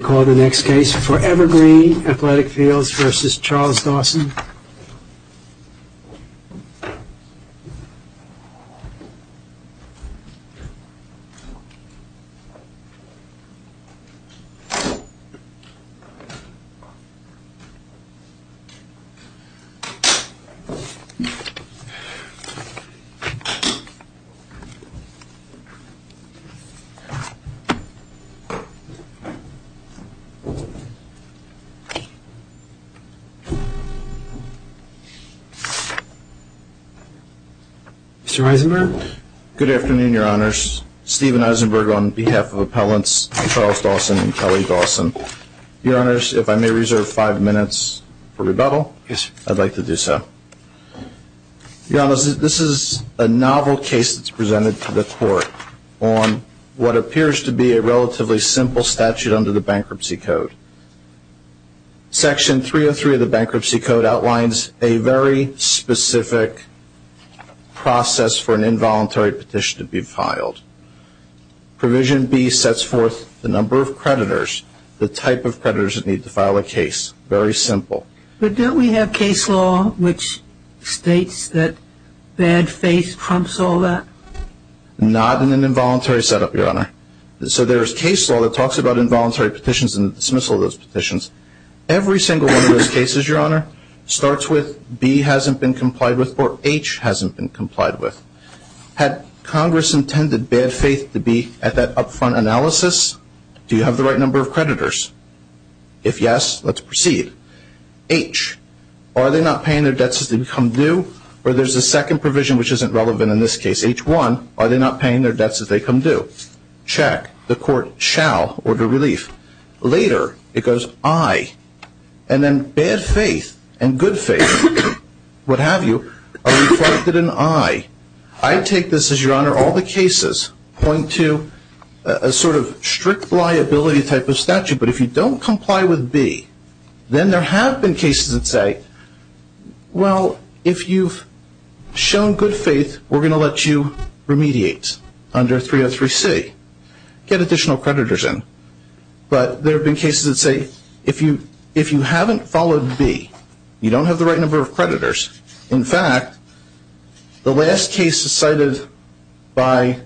I call the next case ForeverGreen Athletic Fields v. Charles Dawson. Mr. Eisenberg? Good afternoon, your honors. Stephen Eisenberg on behalf of appellants Charles Dawson and Kelly Dawson. Your honors, if I may reserve five minutes for rebuttal. Yes, sir. I'd like to do so. Your honors, this is a novel case that's presented to the court on what appears to be a relatively simple statute under the Bankruptcy Code. Section 303 of the Bankruptcy Code outlines a very specific process for an involuntary petition to be filed. Provision B sets forth the number of creditors, the type of creditors that need to file a case. Very simple. But don't we have case law which states that bad faith trumps all that? Not in an involuntary setup, your honor. So there is case law that talks about involuntary petitions and the dismissal of those petitions. Every single one of those cases, your honor, starts with B hasn't been complied with or H hasn't been complied with. Had Congress intended bad faith to be at that upfront analysis? Do you have the right number of creditors? If yes, let's proceed. H, are they not paying their debts as they become due? Or there's a second provision which isn't relevant in this case. H1, are they not paying their debts as they become due? Check. The court shall order relief. Later, it goes I. And then bad faith and good faith, what have you, are reflected in I. I take this as, your honor, all the cases point to a sort of strict liability type of statute. But if you don't comply with B, then there have been cases that say, well, if you've shown good faith, we're going to let you remediate under 303C. Get additional creditors in. But there have been cases that say, if you haven't followed B, you don't have the right number of creditors. In fact, the last case cited by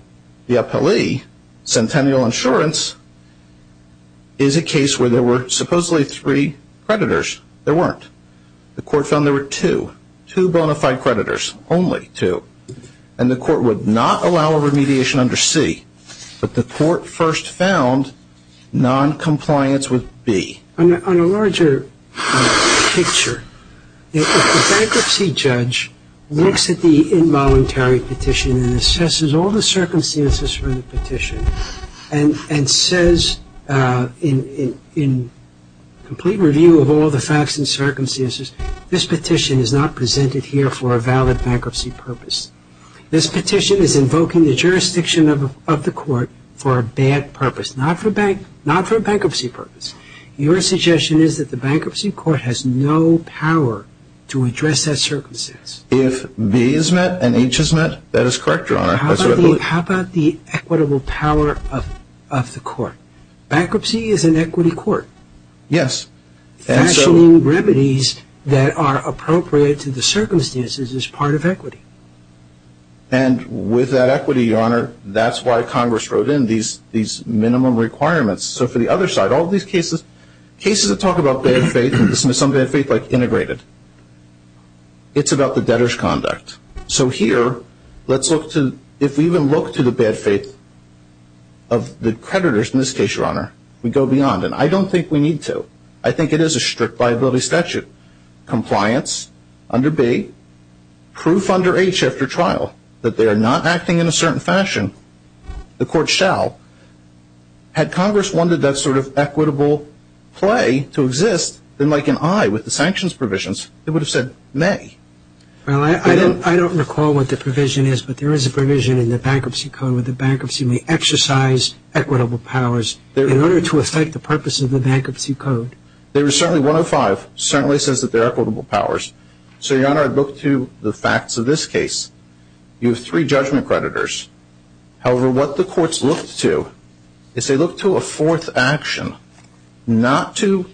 the appellee, Centennial Insurance, is a case where there were supposedly three creditors. There weren't. The court found there were two, two bona fide creditors, only two. And the court would not allow a remediation under C. But the court first found noncompliance with B. On a larger picture, if the bankruptcy judge looks at the involuntary petition and assesses all the circumstances for the petition, and says in complete review of all the facts and circumstances, this petition is not presented here for a valid bankruptcy purpose. This petition is invoking the jurisdiction of the court for a bad purpose, not for bankruptcy purpose. Your suggestion is that the bankruptcy court has no power to address that circumstance. If B is met and H is met, that is correct, your honor. How about the equitable power of the court? Bankruptcy is an equity court. Yes. Fashioning remedies that are appropriate to the circumstances is part of equity. And with that equity, your honor, that's why Congress wrote in these minimum requirements. So for the other side, all these cases, cases that talk about bad faith, some bad faith like integrated, it's about the debtor's conduct. So here, let's look to, if we even look to the bad faith of the creditors in this case, your honor, we go beyond. And I don't think we need to. I think it is a strict liability statute. Compliance under B, proof under H after trial that they are not acting in a certain fashion, the court shall. Had Congress wanted that sort of equitable play to exist, then like an I with the sanctions provisions, it would have said may. Well, I don't recall what the provision is, but there is a provision in the Bankruptcy Code where the bankruptcy may exercise equitable powers in order to effect the purpose of the Bankruptcy Code. There is certainly, 105 certainly says that there are equitable powers. So, your honor, I'd look to the facts of this case. You have three judgment creditors. However, what the courts looked to is they looked to a fourth action, not to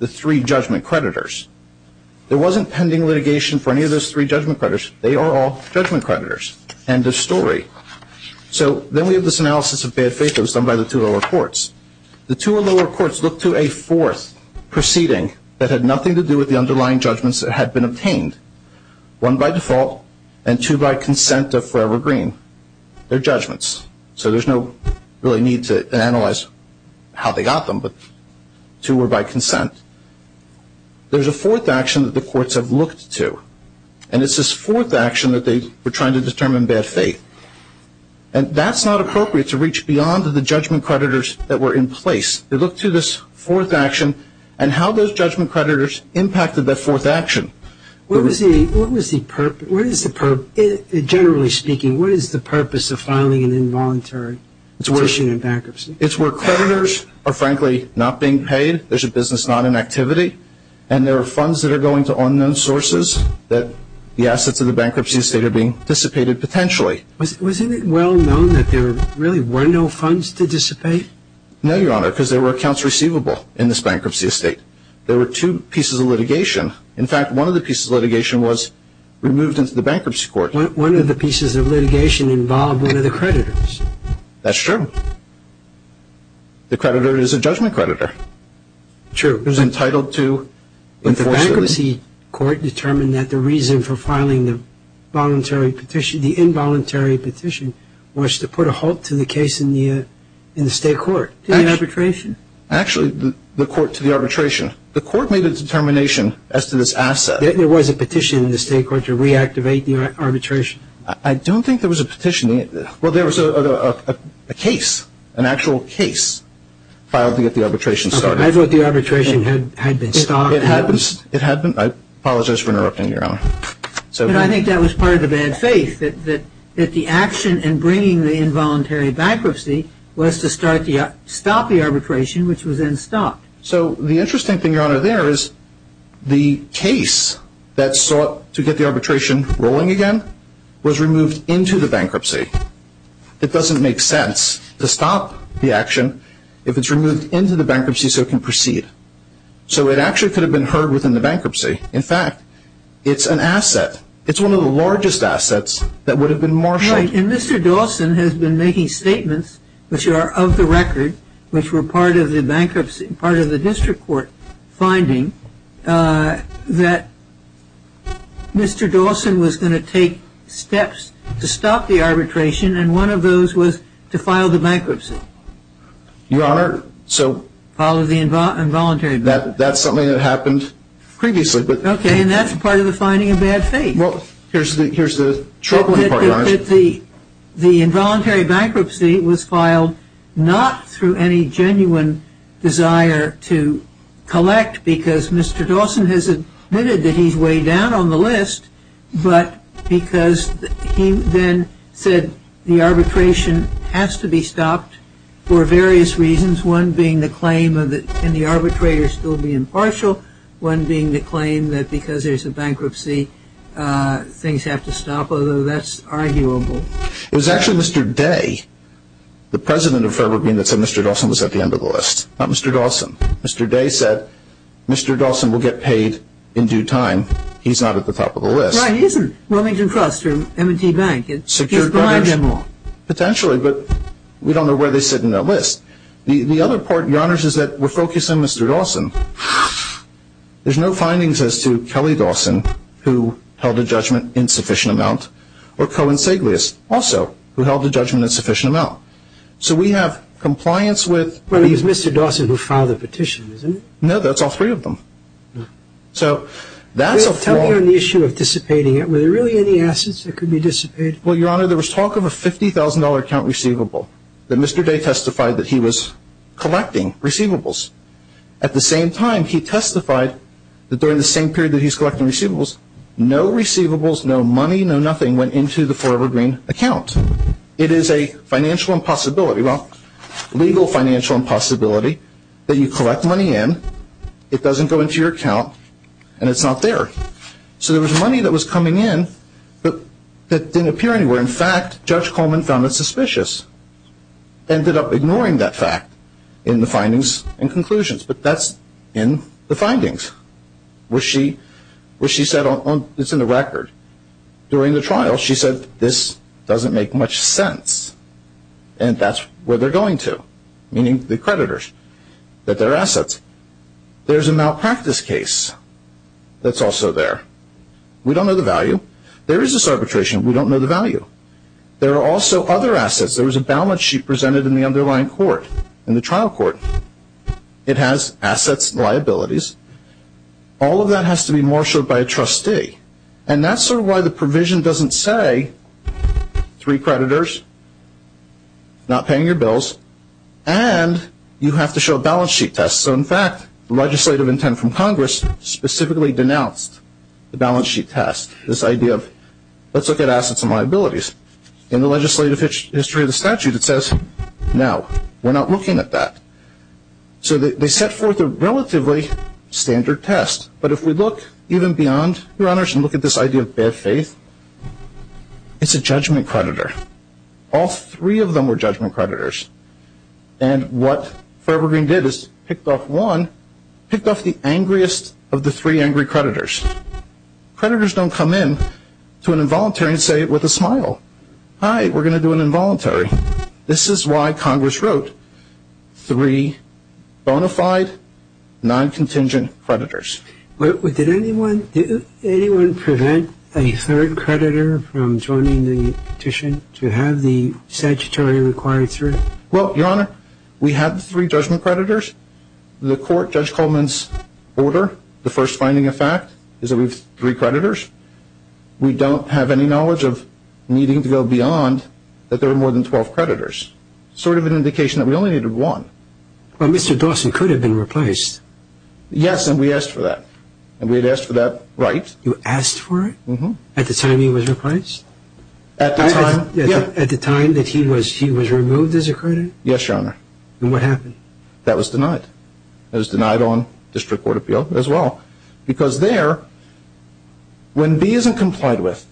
the three judgment creditors. There wasn't pending litigation for any of those three judgment creditors. They are all judgment creditors. End of story. So, then we have this analysis of bad faith that was done by the two lower courts. The two lower courts looked to a fourth proceeding that had nothing to do with the underlying judgments that had been obtained. One by default, and two by consent of Forever Green. They're judgments, so there's no really need to analyze how they got them, but two were by consent. There's a fourth action that the courts have looked to, and it's this fourth action that they were trying to determine bad faith. And that's not appropriate to reach beyond the judgment creditors that were in place. They looked to this fourth action and how those judgment creditors impacted that fourth action. What was the purpose? Generally speaking, what is the purpose of filing an involuntary petition in bankruptcy? It's where creditors are frankly not being paid. There's a business not in activity, and there are funds that are going to unknown sources that the assets of the bankruptcy estate are being dissipated potentially. Wasn't it well known that there really were no funds to dissipate? No, Your Honor, because there were accounts receivable in this bankruptcy estate. There were two pieces of litigation. In fact, one of the pieces of litigation was removed into the bankruptcy court. One of the pieces of litigation involved one of the creditors. That's true. The creditor is a judgment creditor. True. He's entitled to enforcement. The bankruptcy court determined that the reason for filing the involuntary petition was to put a halt to the case in the state court, to the arbitration. Actually, the court to the arbitration. The court made a determination as to this asset. There was a petition in the state court to reactivate the arbitration. I don't think there was a petition. Well, there was a case, an actual case filed to get the arbitration started. I thought the arbitration had been stopped. It had been. I apologize for interrupting, Your Honor. But I think that was part of the bad faith, that the action in bringing the involuntary bankruptcy was to stop the arbitration, which was then stopped. So the interesting thing, Your Honor, there is the case that sought to get the arbitration rolling again was removed into the bankruptcy. It doesn't make sense to stop the action if it's removed into the bankruptcy so it can proceed. So it actually could have been heard within the bankruptcy. In fact, it's an asset. It's one of the largest assets that would have been marshaled. Right, and Mr. Dawson has been making statements, which are of the record, which were part of the bankruptcy, part of the district court finding that Mr. Dawson was going to take steps to stop the arbitration, and one of those was to file the bankruptcy. Your Honor, so... File the involuntary bankruptcy. That's something that happened previously. Okay, and that's part of the finding of bad faith. Well, here's the troubling part, Your Honor. The involuntary bankruptcy was filed not through any genuine desire to collect because Mr. Dawson has admitted that he's way down on the list, but because he then said the arbitration has to be stopped for various reasons, one being the claim that can the arbitrator still be impartial, one being the claim that because there's a bankruptcy, things have to stop, although that's arguable. It was actually Mr. Day, the president of Fairbourn Bean, that said Mr. Dawson was at the end of the list, not Mr. Dawson. Mr. Day said Mr. Dawson will get paid in due time. He's not at the top of the list. Right, he isn't. Wilmington Trust or M&T Bank. Potentially, but we don't know where they sit in that list. The other part, Your Honor, is that we're focusing on Mr. Dawson. There's no findings as to Kelly Dawson, who held a judgment in sufficient amount, or Cohen Saglias, also, who held a judgment in sufficient amount. So we have compliance with... Well, it was Mr. Dawson who filed the petition, isn't it? No, that's all three of them. So that's a flaw... Tell me on the issue of dissipating it. Were there really any assets that could be dissipated? Well, Your Honor, there was talk of a $50,000 account receivable that Mr. Day testified that he was collecting receivables. At the same time, he testified that during the same period that he's collecting receivables, no receivables, no money, no nothing went into the Forever Green account. It is a financial impossibility. Well, legal financial impossibility that you collect money in, it doesn't go into your account, and it's not there. So there was money that was coming in that didn't appear anywhere. In fact, Judge Coleman found it suspicious, ended up ignoring that fact in the findings and conclusions. But that's in the findings. Where she said, it's in the record, during the trial, she said, this doesn't make much sense. And that's where they're going to, meaning the creditors, that they're assets. There's a malpractice case that's also there. We don't know the value. There is this arbitration. We don't know the value. There are also other assets. There was a balance sheet presented in the underlying court, in the trial court. It has assets and liabilities. All of that has to be marshaled by a trustee. And that's sort of why the provision doesn't say, three creditors, not paying your bills, and you have to show a balance sheet test. So, in fact, the legislative intent from Congress specifically denounced the balance sheet test. This idea of, let's look at assets and liabilities. In the legislative history of the statute, it says, no, we're not looking at that. So they set forth a relatively standard test. But if we look even beyond, Your Honors, and look at this idea of bad faith, it's a judgment creditor. All three of them were judgment creditors. And what Forever Green did is picked off one, picked off the angriest of the three angry creditors. Creditors don't come in to an involuntary and say it with a smile. Hi, we're going to do an involuntary. This is why Congress wrote three bona fide, non-contingent creditors. Did anyone prevent a third creditor from joining the petition to have the statutory required three? Well, Your Honor, we have the three judgment creditors. The court, Judge Coleman's order, the first finding of fact is that we have three creditors. We don't have any knowledge of needing to go beyond that there are more than 12 creditors. Sort of an indication that we only needed one. Well, Mr. Dawson could have been replaced. Yes, and we asked for that. And we had asked for that right. You asked for it? Mm-hmm. At the time he was replaced? At the time, yeah. At the time that he was removed as a creditor? Yes, Your Honor. And what happened? That was denied. That was denied on district court appeal as well. Because there, when B isn't complied with,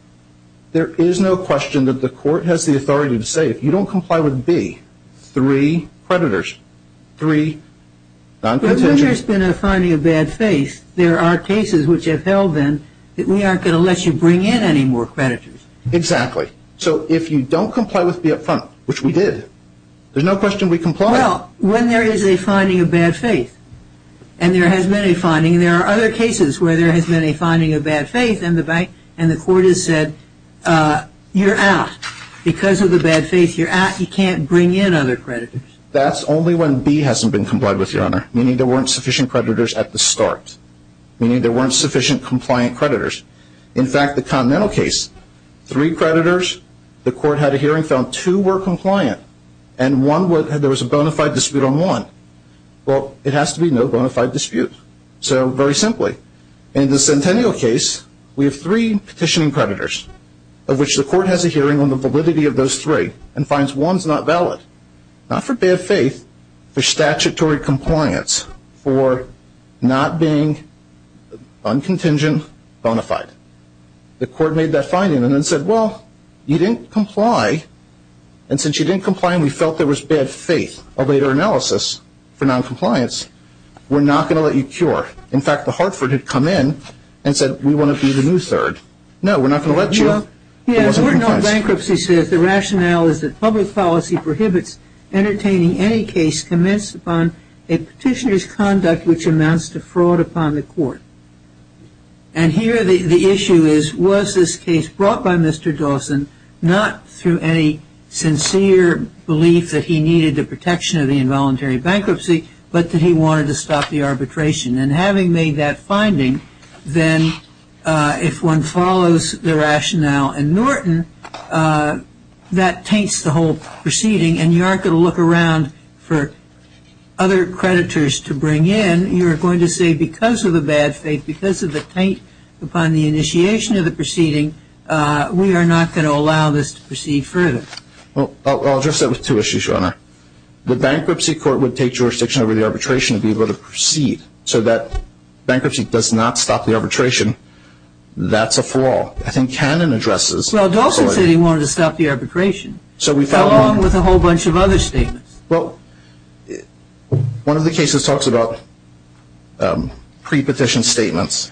there is no question that the court has the authority to say, if you don't comply with B, three creditors, three non-contingent. But then there's been a finding of bad faith. There are cases which have held then that we aren't going to let you bring in any more creditors. Exactly. So if you don't comply with B up front, which we did, there's no question we comply. Well, when there is a finding of bad faith, and there has been a finding, and there are other cases where there has been a finding of bad faith, and the court has said, you're out. Because of the bad faith, you're out. You can't bring in other creditors. That's only when B hasn't been complied with, Your Honor, meaning there weren't sufficient creditors at the start, meaning there weren't sufficient compliant creditors. In fact, the Continental case, three creditors, the court had a hearing, found two were compliant, and there was a bona fide dispute on one. Well, it has to be no bona fide dispute. So very simply, in the Centennial case, we have three petitioning creditors, of which the court has a hearing on the validity of those three and finds one's not valid, not for bad faith, for statutory compliance, for not being non-contingent bona fide. The court made that finding and then said, well, you didn't comply, and since you didn't comply and we felt there was bad faith, a later analysis for non-compliance, we're not going to let you cure. In fact, the Hartford had come in and said, we want to be the new third. No, we're not going to let you. The court in all bankruptcy says the rationale is that public policy prohibits entertaining any case commenced upon a petitioner's conduct which amounts to fraud upon the court. And here the issue is, was this case brought by Mr. Dawson not through any sincere belief that he needed the protection of the involuntary bankruptcy, but that he wanted to stop the arbitration? And having made that finding, then if one follows the rationale in Norton, that taints the whole proceeding and you aren't going to look around for other creditors to bring in. You're going to say because of the bad faith, because of the taint upon the initiation of the proceeding, we are not going to allow this to proceed further. Well, I'll address that with two issues, Your Honor. The bankruptcy court would take jurisdiction over the arbitration to be able to proceed so that bankruptcy does not stop the arbitration. That's a flaw. I think Cannon addresses this. Well, Dawson said he wanted to stop the arbitration along with a whole bunch of other statements. Well, one of the cases talks about pre-petition statements.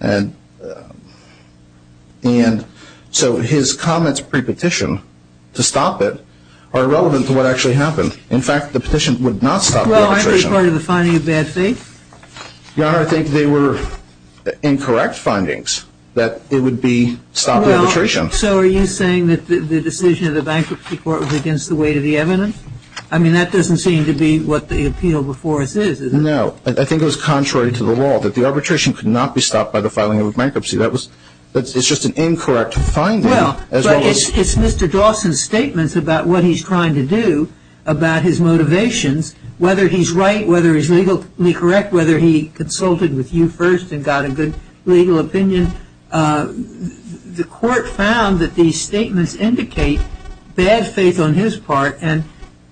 And so his comments pre-petition to stop it are irrelevant to what actually happened. In fact, the petition would not stop the arbitration. Well, aren't they part of the finding of bad faith? Your Honor, I think they were incorrect findings that it would stop the arbitration. So are you saying that the decision of the bankruptcy court was against the weight of the evidence? I mean, that doesn't seem to be what the appeal before us is, is it? No. I think it was contrary to the law, that the arbitration could not be stopped by the filing of a bankruptcy. It's just an incorrect finding. Well, it's Mr. Dawson's statements about what he's trying to do, about his motivations, whether he's right, whether he's legally correct, whether he consulted with you first and got a good legal opinion. The court found that these statements indicate bad faith on his part. And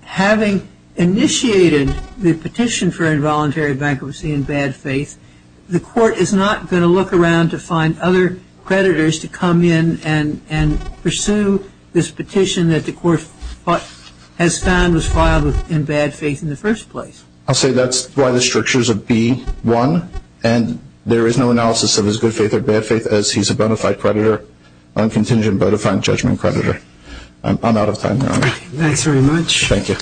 having initiated the petition for involuntary bankruptcy in bad faith, the court is not going to look around to find other creditors to come in and pursue this petition that the court has found was filed in bad faith in the first place. I'll say that's why the strictures of B-1. And there is no analysis of his good faith or bad faith, as he's a bona fide creditor, uncontingent bona fide judgment creditor. I'm out of time, Your Honor. Thanks very much. Thank you.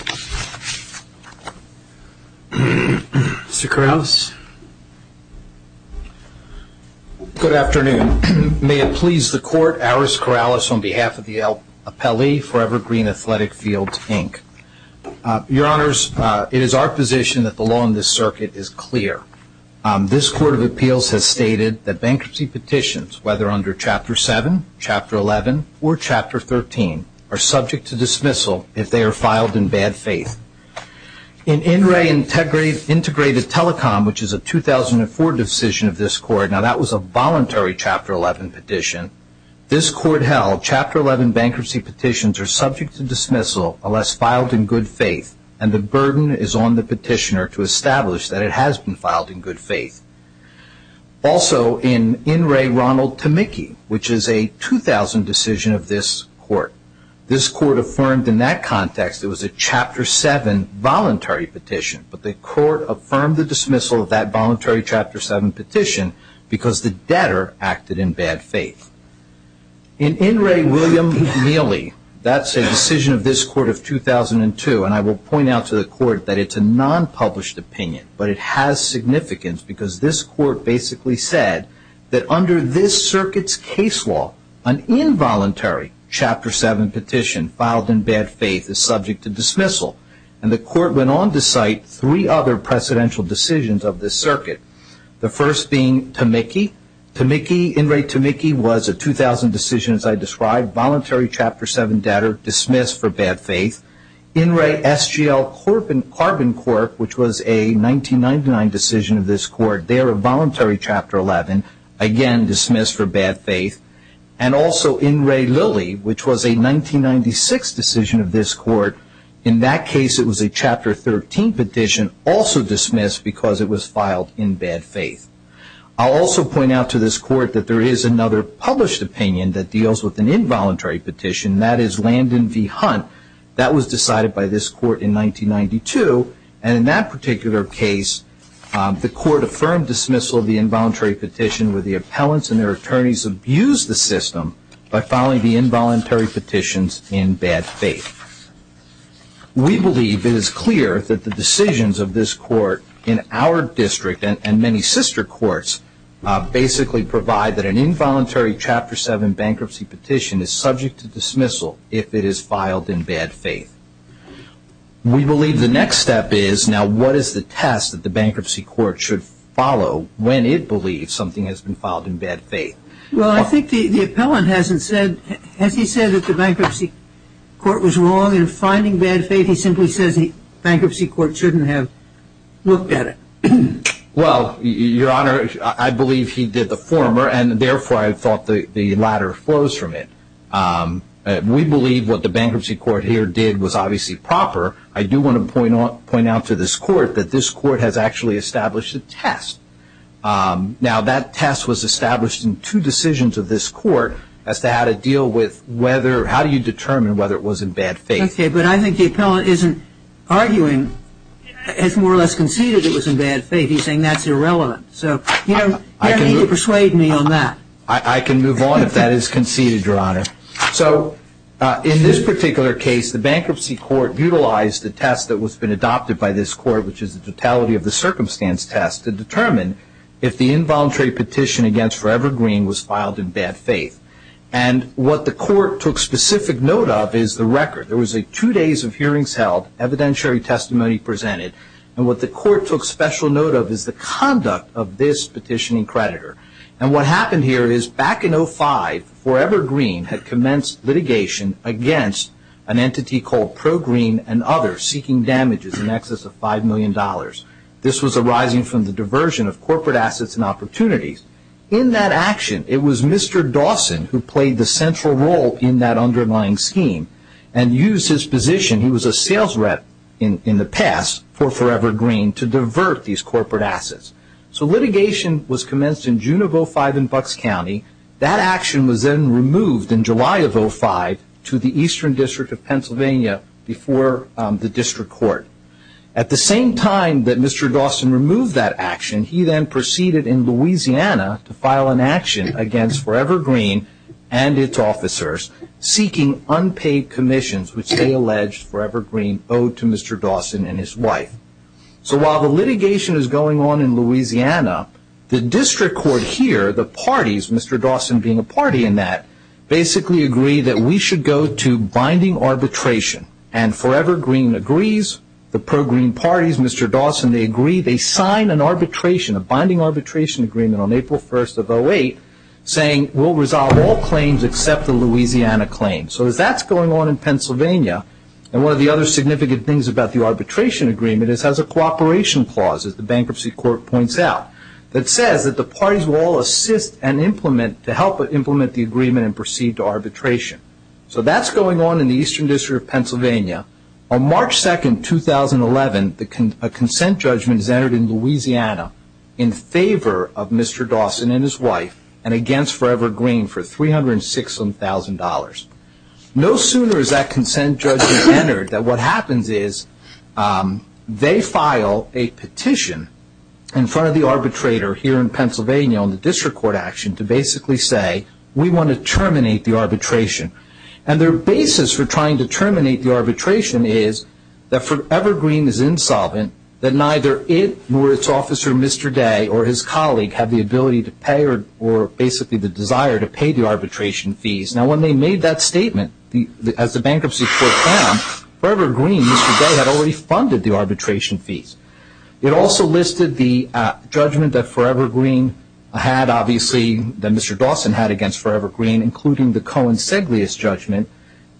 Mr. Corrales. Good afternoon. May it please the court, Aris Corrales on behalf of the appellee for Evergreen Athletic Field, Inc. Your Honors, it is our position that the law in this circuit is clear. This court of appeals has stated that bankruptcy petitions, whether under Chapter 7, Chapter 11, or Chapter 13, are subject to dismissal if they are filed in bad faith. In INRAE Integrated Telecom, which is a 2004 decision of this court, now that was a voluntary Chapter 11 petition, this court held Chapter 11 bankruptcy petitions are subject to dismissal unless filed in good faith, and the burden is on the petitioner to establish that it has been filed in good faith. Also, in INRAE Ronald Tamiki, which is a 2000 decision of this court, this court affirmed in that context it was a Chapter 7 voluntary petition, but the court affirmed the dismissal of that voluntary Chapter 7 petition because the debtor acted in bad faith. In INRAE William Neely, that's a decision of this court of 2002, and I will point out to the court that it's a non-published opinion, but it has significance because this court basically said that under this circuit's case law, an involuntary Chapter 7 petition filed in bad faith is subject to dismissal, and the court went on to cite three other precedential decisions of this circuit, the first being Tamiki, Tamiki, INRAE Tamiki was a 2000 decision as I described, voluntary Chapter 7 debtor dismissed for bad faith, INRAE SGL Carbon Cork, which was a 1999 decision of this court, there a voluntary Chapter 11, again dismissed for bad faith, and also INRAE Lilly, which was a 1996 decision of this court, in that case it was a Chapter 13 petition, also dismissed because it was filed in bad faith. I'll also point out to this court that there is another published opinion that deals with an involuntary petition, and that is Landon v. Hunt, that was decided by this court in 1992, and in that particular case the court affirmed dismissal of the involuntary petition where the appellants and their attorneys abused the system by filing the involuntary petitions in bad faith. We believe it is clear that the decisions of this court in our district and many sister courts basically provide that an involuntary Chapter 7 bankruptcy petition is subject to dismissal if it is filed in bad faith. We believe the next step is now what is the test that the bankruptcy court should follow when it believes something has been filed in bad faith. Well, I think the appellant hasn't said, has he said that the bankruptcy court was wrong in finding bad faith? He simply says the bankruptcy court shouldn't have looked at it. Well, Your Honor, I believe he did the former, and therefore I thought the latter flows from it. We believe what the bankruptcy court here did was obviously proper. I do want to point out to this court that this court has actually established a test. Now, that test was established in two decisions of this court as to how to deal with whether, how do you determine whether it was in bad faith? Okay, but I think the appellant isn't arguing, has more or less conceded it was in bad faith. He's saying that's irrelevant, so you don't need to persuade me on that. I can move on if that is conceded, Your Honor. So in this particular case, the bankruptcy court utilized the test that was been adopted by this court, which is the totality of the circumstance test, to determine if the involuntary petition against Forever Green was filed in bad faith. And what the court took specific note of is the record. There was two days of hearings held, evidentiary testimony presented, and what the court took special note of is the conduct of this petitioning creditor. And what happened here is back in 05, Forever Green had commenced litigation against an entity called Pro Green and others seeking damages in excess of $5 million. This was arising from the diversion of corporate assets and opportunities. In that action, it was Mr. Dawson who played the central role in that underlying scheme and used his position, he was a sales rep in the past for Forever Green, to divert these corporate assets. So litigation was commenced in June of 05 in Bucks County. That action was then removed in July of 05 to the Eastern District of Pennsylvania before the district court. At the same time that Mr. Dawson removed that action, he then proceeded in Louisiana to file an action against Forever Green and its officers seeking unpaid commissions which they alleged Forever Green owed to Mr. Dawson and his wife. The district court here, the parties, Mr. Dawson being a party in that, basically agreed that we should go to binding arbitration. And Forever Green agrees, the Pro Green parties, Mr. Dawson, they agree, they sign an arbitration, a binding arbitration agreement on April 1st of 08 saying we'll resolve all claims except the Louisiana claim. So as that's going on in Pennsylvania, and one of the other significant things about the arbitration agreement is it has a cooperation clause, as the bankruptcy court points out, that says that the parties will all assist and implement, to help implement the agreement and proceed to arbitration. So that's going on in the Eastern District of Pennsylvania. On March 2nd, 2011, a consent judgment is entered in Louisiana in favor of Mr. Dawson and his wife and against Forever Green for $306,000. No sooner is that consent judgment entered that what happens is they file a petition in front of the arbitrator here in Pennsylvania on the district court action to basically say, we want to terminate the arbitration. And their basis for trying to terminate the arbitration is that Forever Green is insolvent, that neither it nor its officer Mr. Day or his colleague have the ability to pay or basically the desire to pay the arbitration fees. Now, when they made that statement, as the bankruptcy court found, Forever Green, Mr. Day, had already funded the arbitration fees. It also listed the judgment that Forever Green had, obviously, that Mr. Dawson had against Forever Green, including the Cohen-Seglius judgment,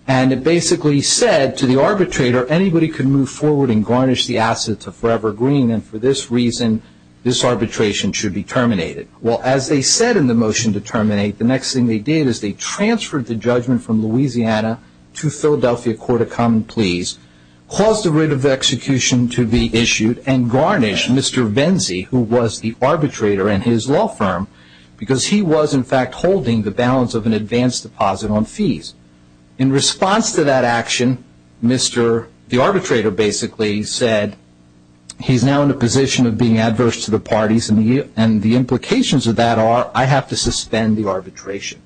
and it basically said to the arbitrator, anybody can move forward and garnish the assets of Forever Green, and for this reason this arbitration should be terminated. Well, as they said in the motion to terminate, the next thing they did is they transferred the judgment from Louisiana to Philadelphia Court of Common Pleas, caused the writ of execution to be issued, and garnished Mr. Venzi, who was the arbitrator and his law firm, because he was, in fact, holding the balance of an advance deposit on fees. In response to that action, the arbitrator basically said, he's now in a position of being adverse to the parties, and the implications of that are, I have to suspend the arbitration.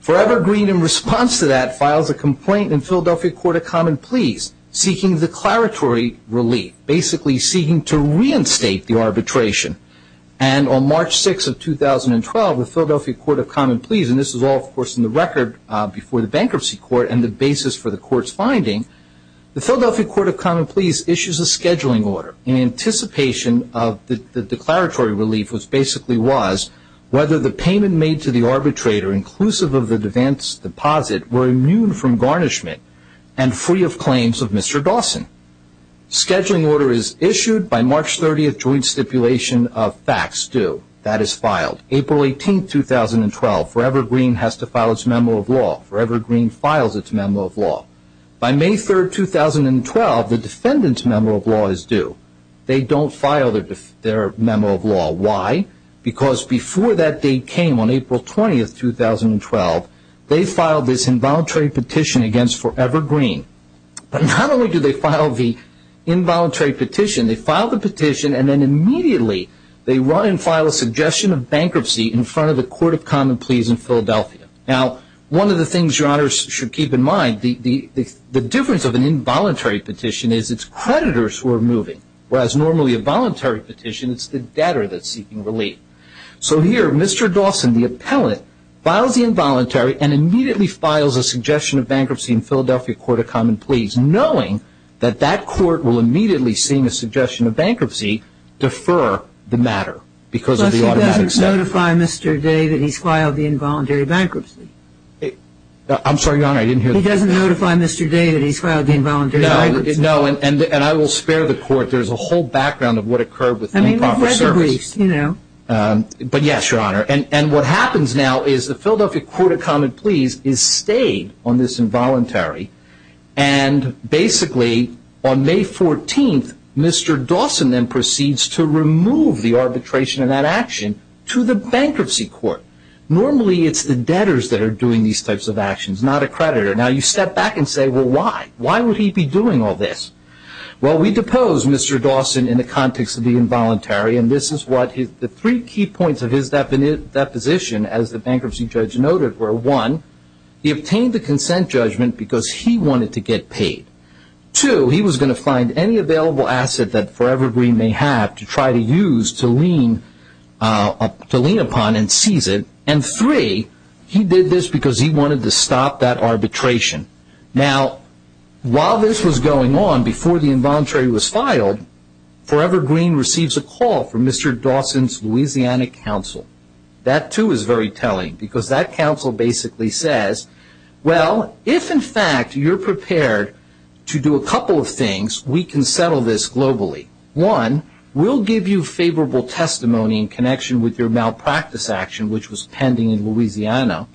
Forever Green, in response to that, files a complaint in Philadelphia Court of Common Pleas, seeking declaratory relief, basically seeking to reinstate the arbitration, and on March 6 of 2012, the Philadelphia Court of Common Pleas, and this is all, of course, in the record before the bankruptcy court and the basis for the court's finding, the Philadelphia Court of Common Pleas issues a scheduling order in anticipation of the declaratory relief, which basically was, whether the payment made to the arbitrator, inclusive of the advance deposit, were immune from garnishment and free of claims of Mr. Dawson. Scheduling order is issued by March 30, joint stipulation of facts due. That is filed. April 18, 2012, Forever Green has to file its memo of law. Forever Green files its memo of law. By May 3, 2012, the defendant's memo of law is due. They don't file their memo of law. Why? Because before that date came, on April 20, 2012, they filed this involuntary petition against Forever Green. But not only do they file the involuntary petition, they file the petition, and then immediately they run and file a suggestion of bankruptcy in front of the Court of Common Pleas in Philadelphia. Now, one of the things, Your Honors, you should keep in mind, the difference of an involuntary petition is it's creditors who are moving, whereas normally a voluntary petition, it's the debtor that's seeking relief. So here, Mr. Dawson, the appellate, files the involuntary and immediately files a suggestion of bankruptcy in Philadelphia Court of Common Pleas, knowing that that court will immediately, seeing a suggestion of bankruptcy, defer the matter because of the automatic statute. He doesn't notify Mr. David he's filed the involuntary bankruptcy. I'm sorry, Your Honor, I didn't hear that. He doesn't notify Mr. David he's filed the involuntary bankruptcy. No, and I will spare the Court. There's a whole background of what occurred with improper service. I mean, we've read the briefs, you know. But yes, Your Honor. And what happens now is the Philadelphia Court of Common Pleas is stayed on this involuntary, and basically on May 14th, Mr. Dawson then proceeds to remove the arbitration and that action to the bankruptcy court. Normally it's the debtors that are doing these types of actions, not a creditor. Now you step back and say, well, why? Why would he be doing all this? Well, we depose Mr. Dawson in the context of the involuntary, and this is what the three key points of his deposition, as the bankruptcy judge noted, were. One, he obtained the consent judgment because he wanted to get paid. Two, he was going to find any available asset that Forever Green may have to try to use to lean upon and seize it. And three, he did this because he wanted to stop that arbitration. Now, while this was going on, before the involuntary was filed, Forever Green receives a call from Mr. Dawson's Louisiana counsel. That, too, is very telling because that counsel basically says, well, if in fact you're prepared to do a couple of things, we can settle this globally. One, we'll give you favorable testimony in connection with your malpractice action, which was pending in Louisiana,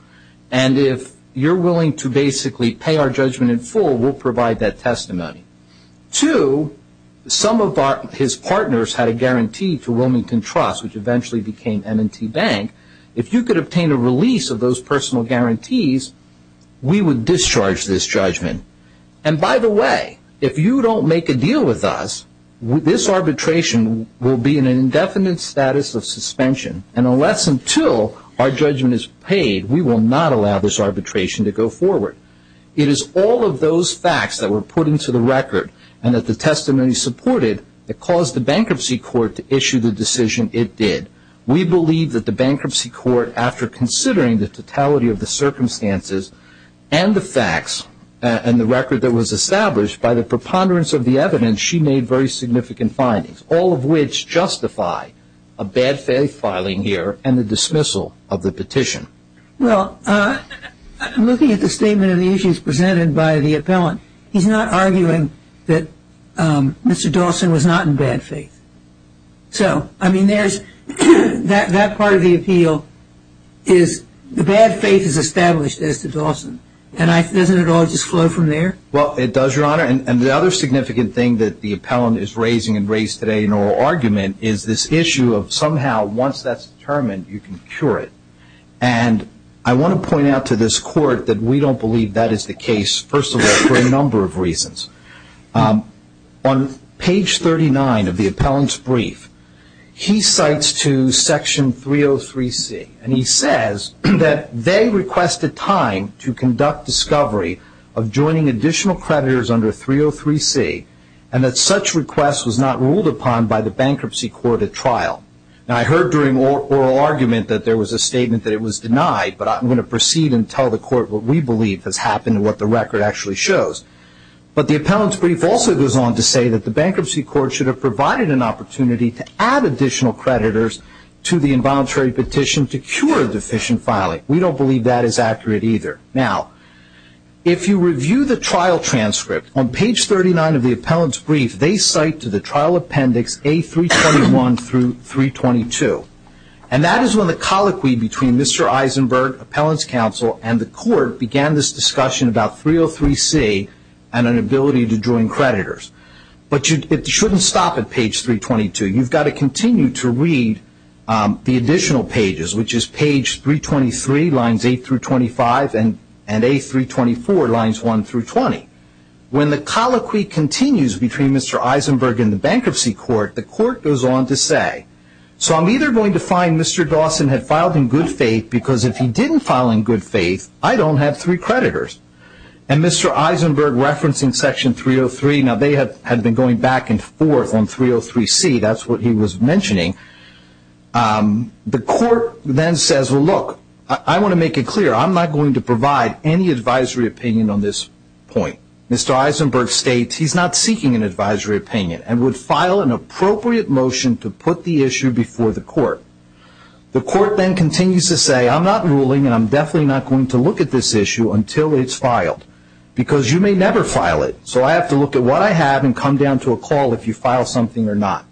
and if you're willing to basically pay our judgment in full, we'll provide that testimony. Two, some of his partners had a guarantee to Wilmington Trust, which eventually became M&T Bank. If you could obtain a release of those personal guarantees, we would discharge this judgment. And by the way, if you don't make a deal with us, this arbitration will be in an indefinite status of suspension, and unless until our judgment is paid, we will not allow this arbitration to go forward. It is all of those facts that were put into the record and that the testimony supported that caused the Bankruptcy Court to issue the decision it did. We believe that the Bankruptcy Court, after considering the totality of the circumstances and the facts and the record that was established by the preponderance of the evidence, she made very significant findings, all of which justify a bad faith filing here and the dismissal of the petition. Well, looking at the statement of the issues presented by the appellant, he's not arguing that Mr. Dawson was not in bad faith. So, I mean, that part of the appeal is the bad faith is established as to Dawson, and doesn't it all just flow from there? Well, it does, Your Honor, and the other significant thing that the appellant is raising and raised today in oral argument is this issue of somehow once that's determined, you can cure it. And I want to point out to this Court that we don't believe that is the case, first of all, for a number of reasons. On page 39 of the appellant's brief, he cites to Section 303C, and he says that they requested time to conduct discovery of joining additional creditors under 303C and that such request was not ruled upon by the Bankruptcy Court at trial. Now, I heard during oral argument that there was a statement that it was denied, but I'm going to proceed and tell the Court what we believe has happened and what the record actually shows. But the appellant's brief also goes on to say that the Bankruptcy Court should have provided an opportunity to add additional creditors to the involuntary petition to cure deficient filing. We don't believe that is accurate either. Now, if you review the trial transcript, on page 39 of the appellant's brief, they cite to the trial appendix A321 through 322. And that is when the colloquy between Mr. Eisenberg, appellant's counsel, and the Court began this discussion about 303C and an ability to join creditors. But it shouldn't stop at page 322. You've got to continue to read the additional pages, which is page 323, lines 8 through 25, and A324, lines 1 through 20. When the colloquy continues between Mr. Eisenberg and the Bankruptcy Court, the Court goes on to say, so I'm either going to find Mr. Dawson had filed in good faith, because if he didn't file in good faith, I don't have three creditors. And Mr. Eisenberg, referencing section 303, now they had been going back and forth on 303C. That's what he was mentioning. The Court then says, well, look, I want to make it clear. I'm not going to provide any advisory opinion on this point. Mr. Eisenberg states he's not seeking an advisory opinion and would file an appropriate motion to put the issue before the Court. The Court then continues to say I'm not ruling and I'm definitely not going to look at this issue until it's filed, because you may never file it. So I have to look at what I have and come down to a call if you file something or not.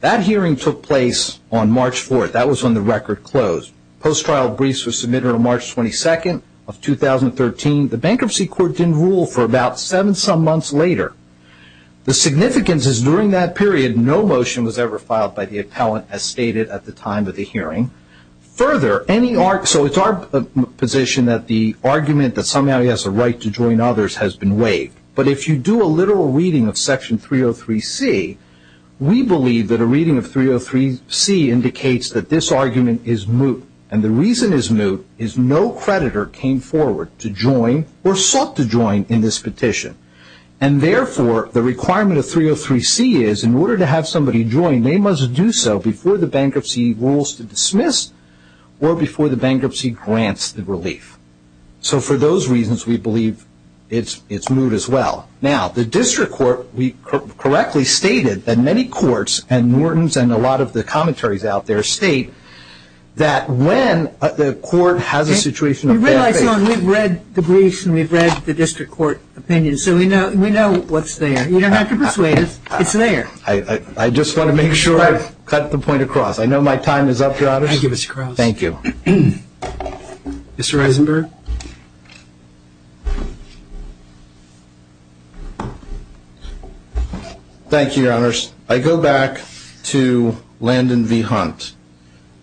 That hearing took place on March 4th. That was when the record closed. Post-trial briefs were submitted on March 22nd of 2013. The Bankruptcy Court didn't rule for about seven-some months later. The significance is during that period no motion was ever filed by the appellant, as stated at the time of the hearing. Further, so it's our position that the argument that somehow he has a right to join others has been waived. But if you do a literal reading of section 303C, we believe that a reading of 303C indicates that this argument is moot, and the reason it's moot is no creditor came forward to join or sought to join in this petition. And therefore, the requirement of 303C is in order to have somebody join, they must do so before the bankruptcy rules to dismiss or before the bankruptcy grants the relief. So for those reasons, we believe it's moot as well. Now, the district court, we correctly stated that many courts and Norton's and a lot of the commentaries out there state that when the court has a situation of bankruptcy. You realize, John, we've read the briefs and we've read the district court opinions, so we know what's there. You don't have to persuade us. It's there. I just want to make sure I've cut the point across. I know my time is up, Your Honor. I give us a cross. Thank you. Mr. Eisenberg. Thank you, Your Honors. I go back to Landon v. Hunt,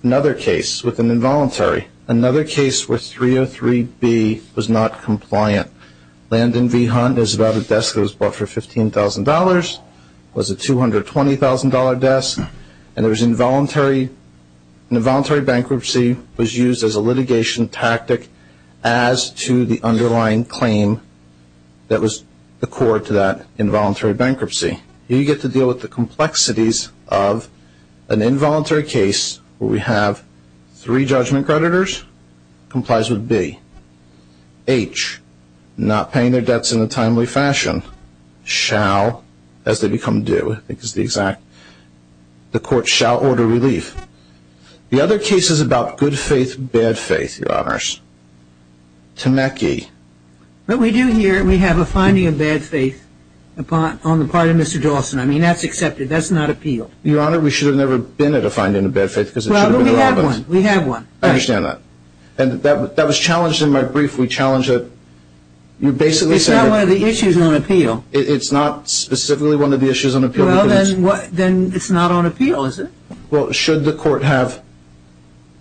another case with an involuntary, another case where 303B was not compliant. Landon v. Hunt is about a desk that was bought for $15,000, was a $220,000 desk, and involuntary bankruptcy was used as a litigation tactic as to the underlying claim that was the core to that involuntary bankruptcy. You get to deal with the complexities of an involuntary case where we have three judgment creditors complies with B. H, not paying their debts in a timely fashion. The court shall order relief. The other case is about good faith, bad faith, Your Honors. Temecki. What we do here, we have a finding of bad faith on the part of Mr. Dawson. I mean, that's accepted. That's not appealed. Your Honor, we should have never been at a finding of bad faith because it should have been irrelevant. Well, but we have one. We have one. I understand that. And that was challenged in my brief. We challenged it. It's not one of the issues on appeal. It's not specifically one of the issues on appeal. Well, then it's not on appeal, is it? Well, should the court have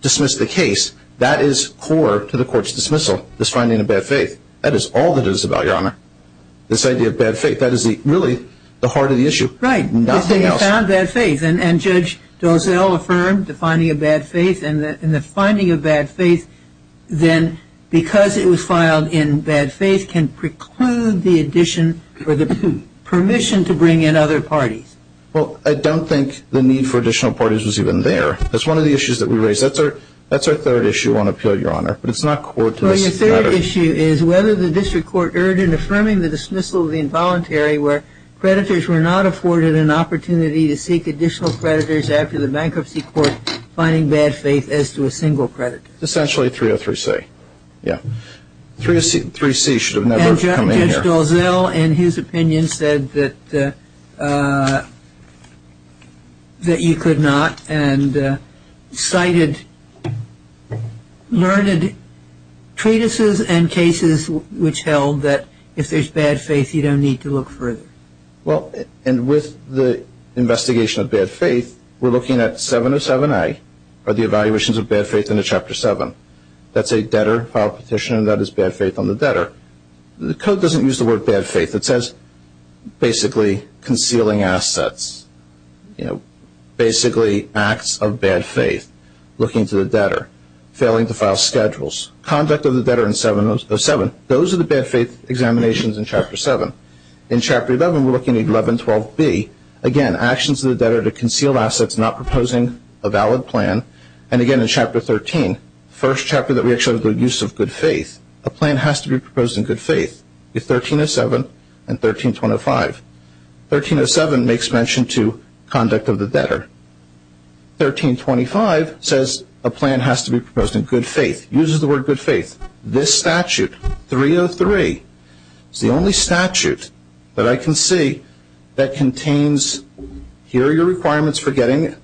dismissed the case, that is core to the court's dismissal, this finding of bad faith. That is all that it is about, Your Honor, this idea of bad faith. That is really the heart of the issue. Right. If they found bad faith, and Judge Dozell affirmed the finding of bad faith, then because it was filed in bad faith can preclude the addition or the permission to bring in other parties. Well, I don't think the need for additional parties was even there. That's one of the issues that we raised. That's our third issue on appeal, Your Honor. But it's not core to this matter. Well, your third issue is whether the district court erred in affirming the dismissal of the involuntary where creditors were not afforded an opportunity to seek additional creditors after the bankruptcy court finding bad faith as to a single creditor. Essentially 303C. Yeah. 303C should have never come in here. And Judge Dozell, in his opinion, said that you could not cited learned treatises and cases which held that if there's bad faith you don't need to look further. Well, and with the investigation of bad faith, we're looking at 707A, or the evaluations of bad faith in Chapter 7. That's a debtor file petition, and that is bad faith on the debtor. The code doesn't use the word bad faith. It says basically concealing assets, basically acts of bad faith, looking to the debtor, failing to file schedules, conduct of the debtor in 707. Those are the bad faith examinations in Chapter 7. In Chapter 11, we're looking at 1112B. Again, actions of the debtor to conceal assets not proposing a valid plan. And, again, in Chapter 13, the first chapter that we actually have the use of good faith. A plan has to be proposed in good faith. It's 1307 and 1325. 1307 makes mention to conduct of the debtor. 1325 says a plan has to be proposed in good faith. Uses the word good faith. This statute, 303, is the only statute that I can see that contains, here are your requirements for getting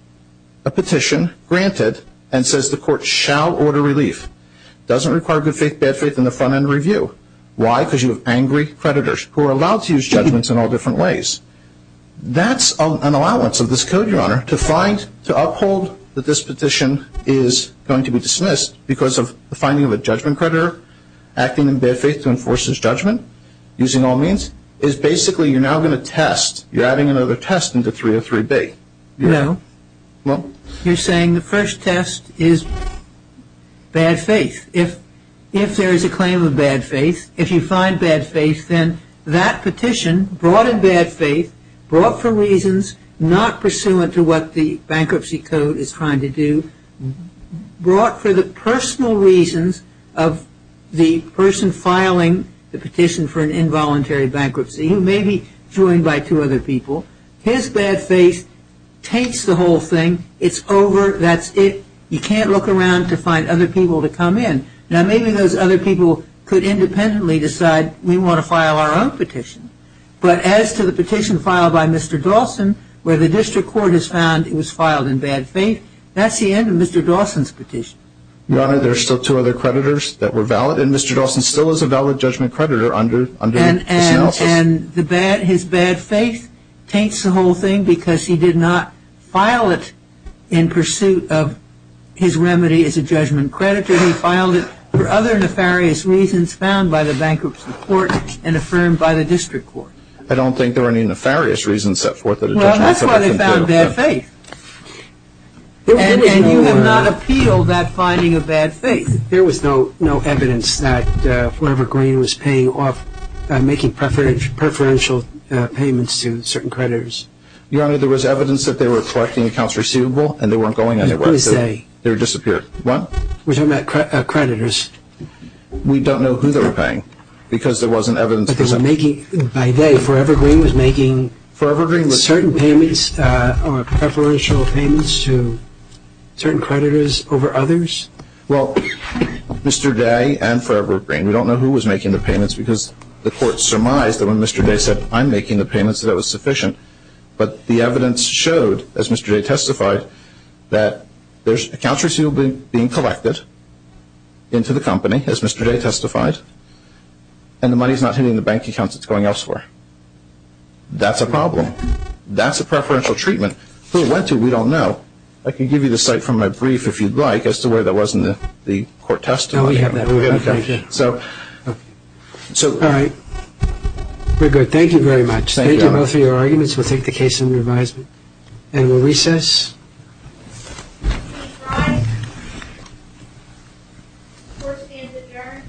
a petition granted, and says the court shall order relief. Doesn't require good faith, bad faith in the front end review. Why? Because you have angry creditors who are allowed to use judgments in all different ways. That's an allowance of this code, Your Honor, to find, to uphold that this petition is going to be dismissed because of the finding of a judgment creditor acting in bad faith to enforce his judgment using all means, is basically you're now going to test. You're adding another test into 303B. No. No? You're saying the first test is bad faith. If there is a claim of bad faith, if you find bad faith, then that petition brought in bad faith, brought for reasons not pursuant to what the bankruptcy code is trying to do, brought for the personal reasons of the person filing the petition for an involuntary bankruptcy who may be joined by two other people. His bad faith takes the whole thing. It's over. That's it. You can't look around to find other people to come in. Now, maybe those other people could independently decide we want to file our own petition, but as to the petition filed by Mr. Dawson where the district court has found it was filed in bad faith, that's the end of Mr. Dawson's petition. Your Honor, there are still two other creditors that were valid, and Mr. Dawson still is a valid judgment creditor under this analysis. And his bad faith takes the whole thing because he did not file it in pursuit of his remedy as a judgment creditor. He filed it for other nefarious reasons found by the bankruptcy court and affirmed by the district court. I don't think there were any nefarious reasons set forth in the judgment. Well, that's why they found bad faith. And you have not appealed that finding of bad faith. There was no evidence that Forever Green was making preferential payments to certain creditors. Your Honor, there was evidence that they were collecting accounts receivable and they weren't going anywhere. Who is they? They disappeared. What? We're talking about creditors. We don't know who they were paying because there wasn't evidence. By they, Forever Green was making certain preferential payments to certain creditors over others? Well, Mr. Day and Forever Green, we don't know who was making the payments because the court surmised that when Mr. Day said, I'm making the payments, that it was sufficient. But the evidence showed, as Mr. Day testified, that there's accounts receivable being collected into the company, as Mr. Day testified, and the money's not hitting the bank accounts it's going elsewhere. That's a problem. That's a preferential treatment. Who it went to, we don't know. Well, I can give you the site from my brief if you'd like as to where that was in the court testimony. Oh, we have that. Okay. So. All right. We're good. Thank you very much. Thank you both for your arguments. We'll take the case under advisement. And we'll recess. Please rise. Court stands adjourned until July 15th at 9 a.m.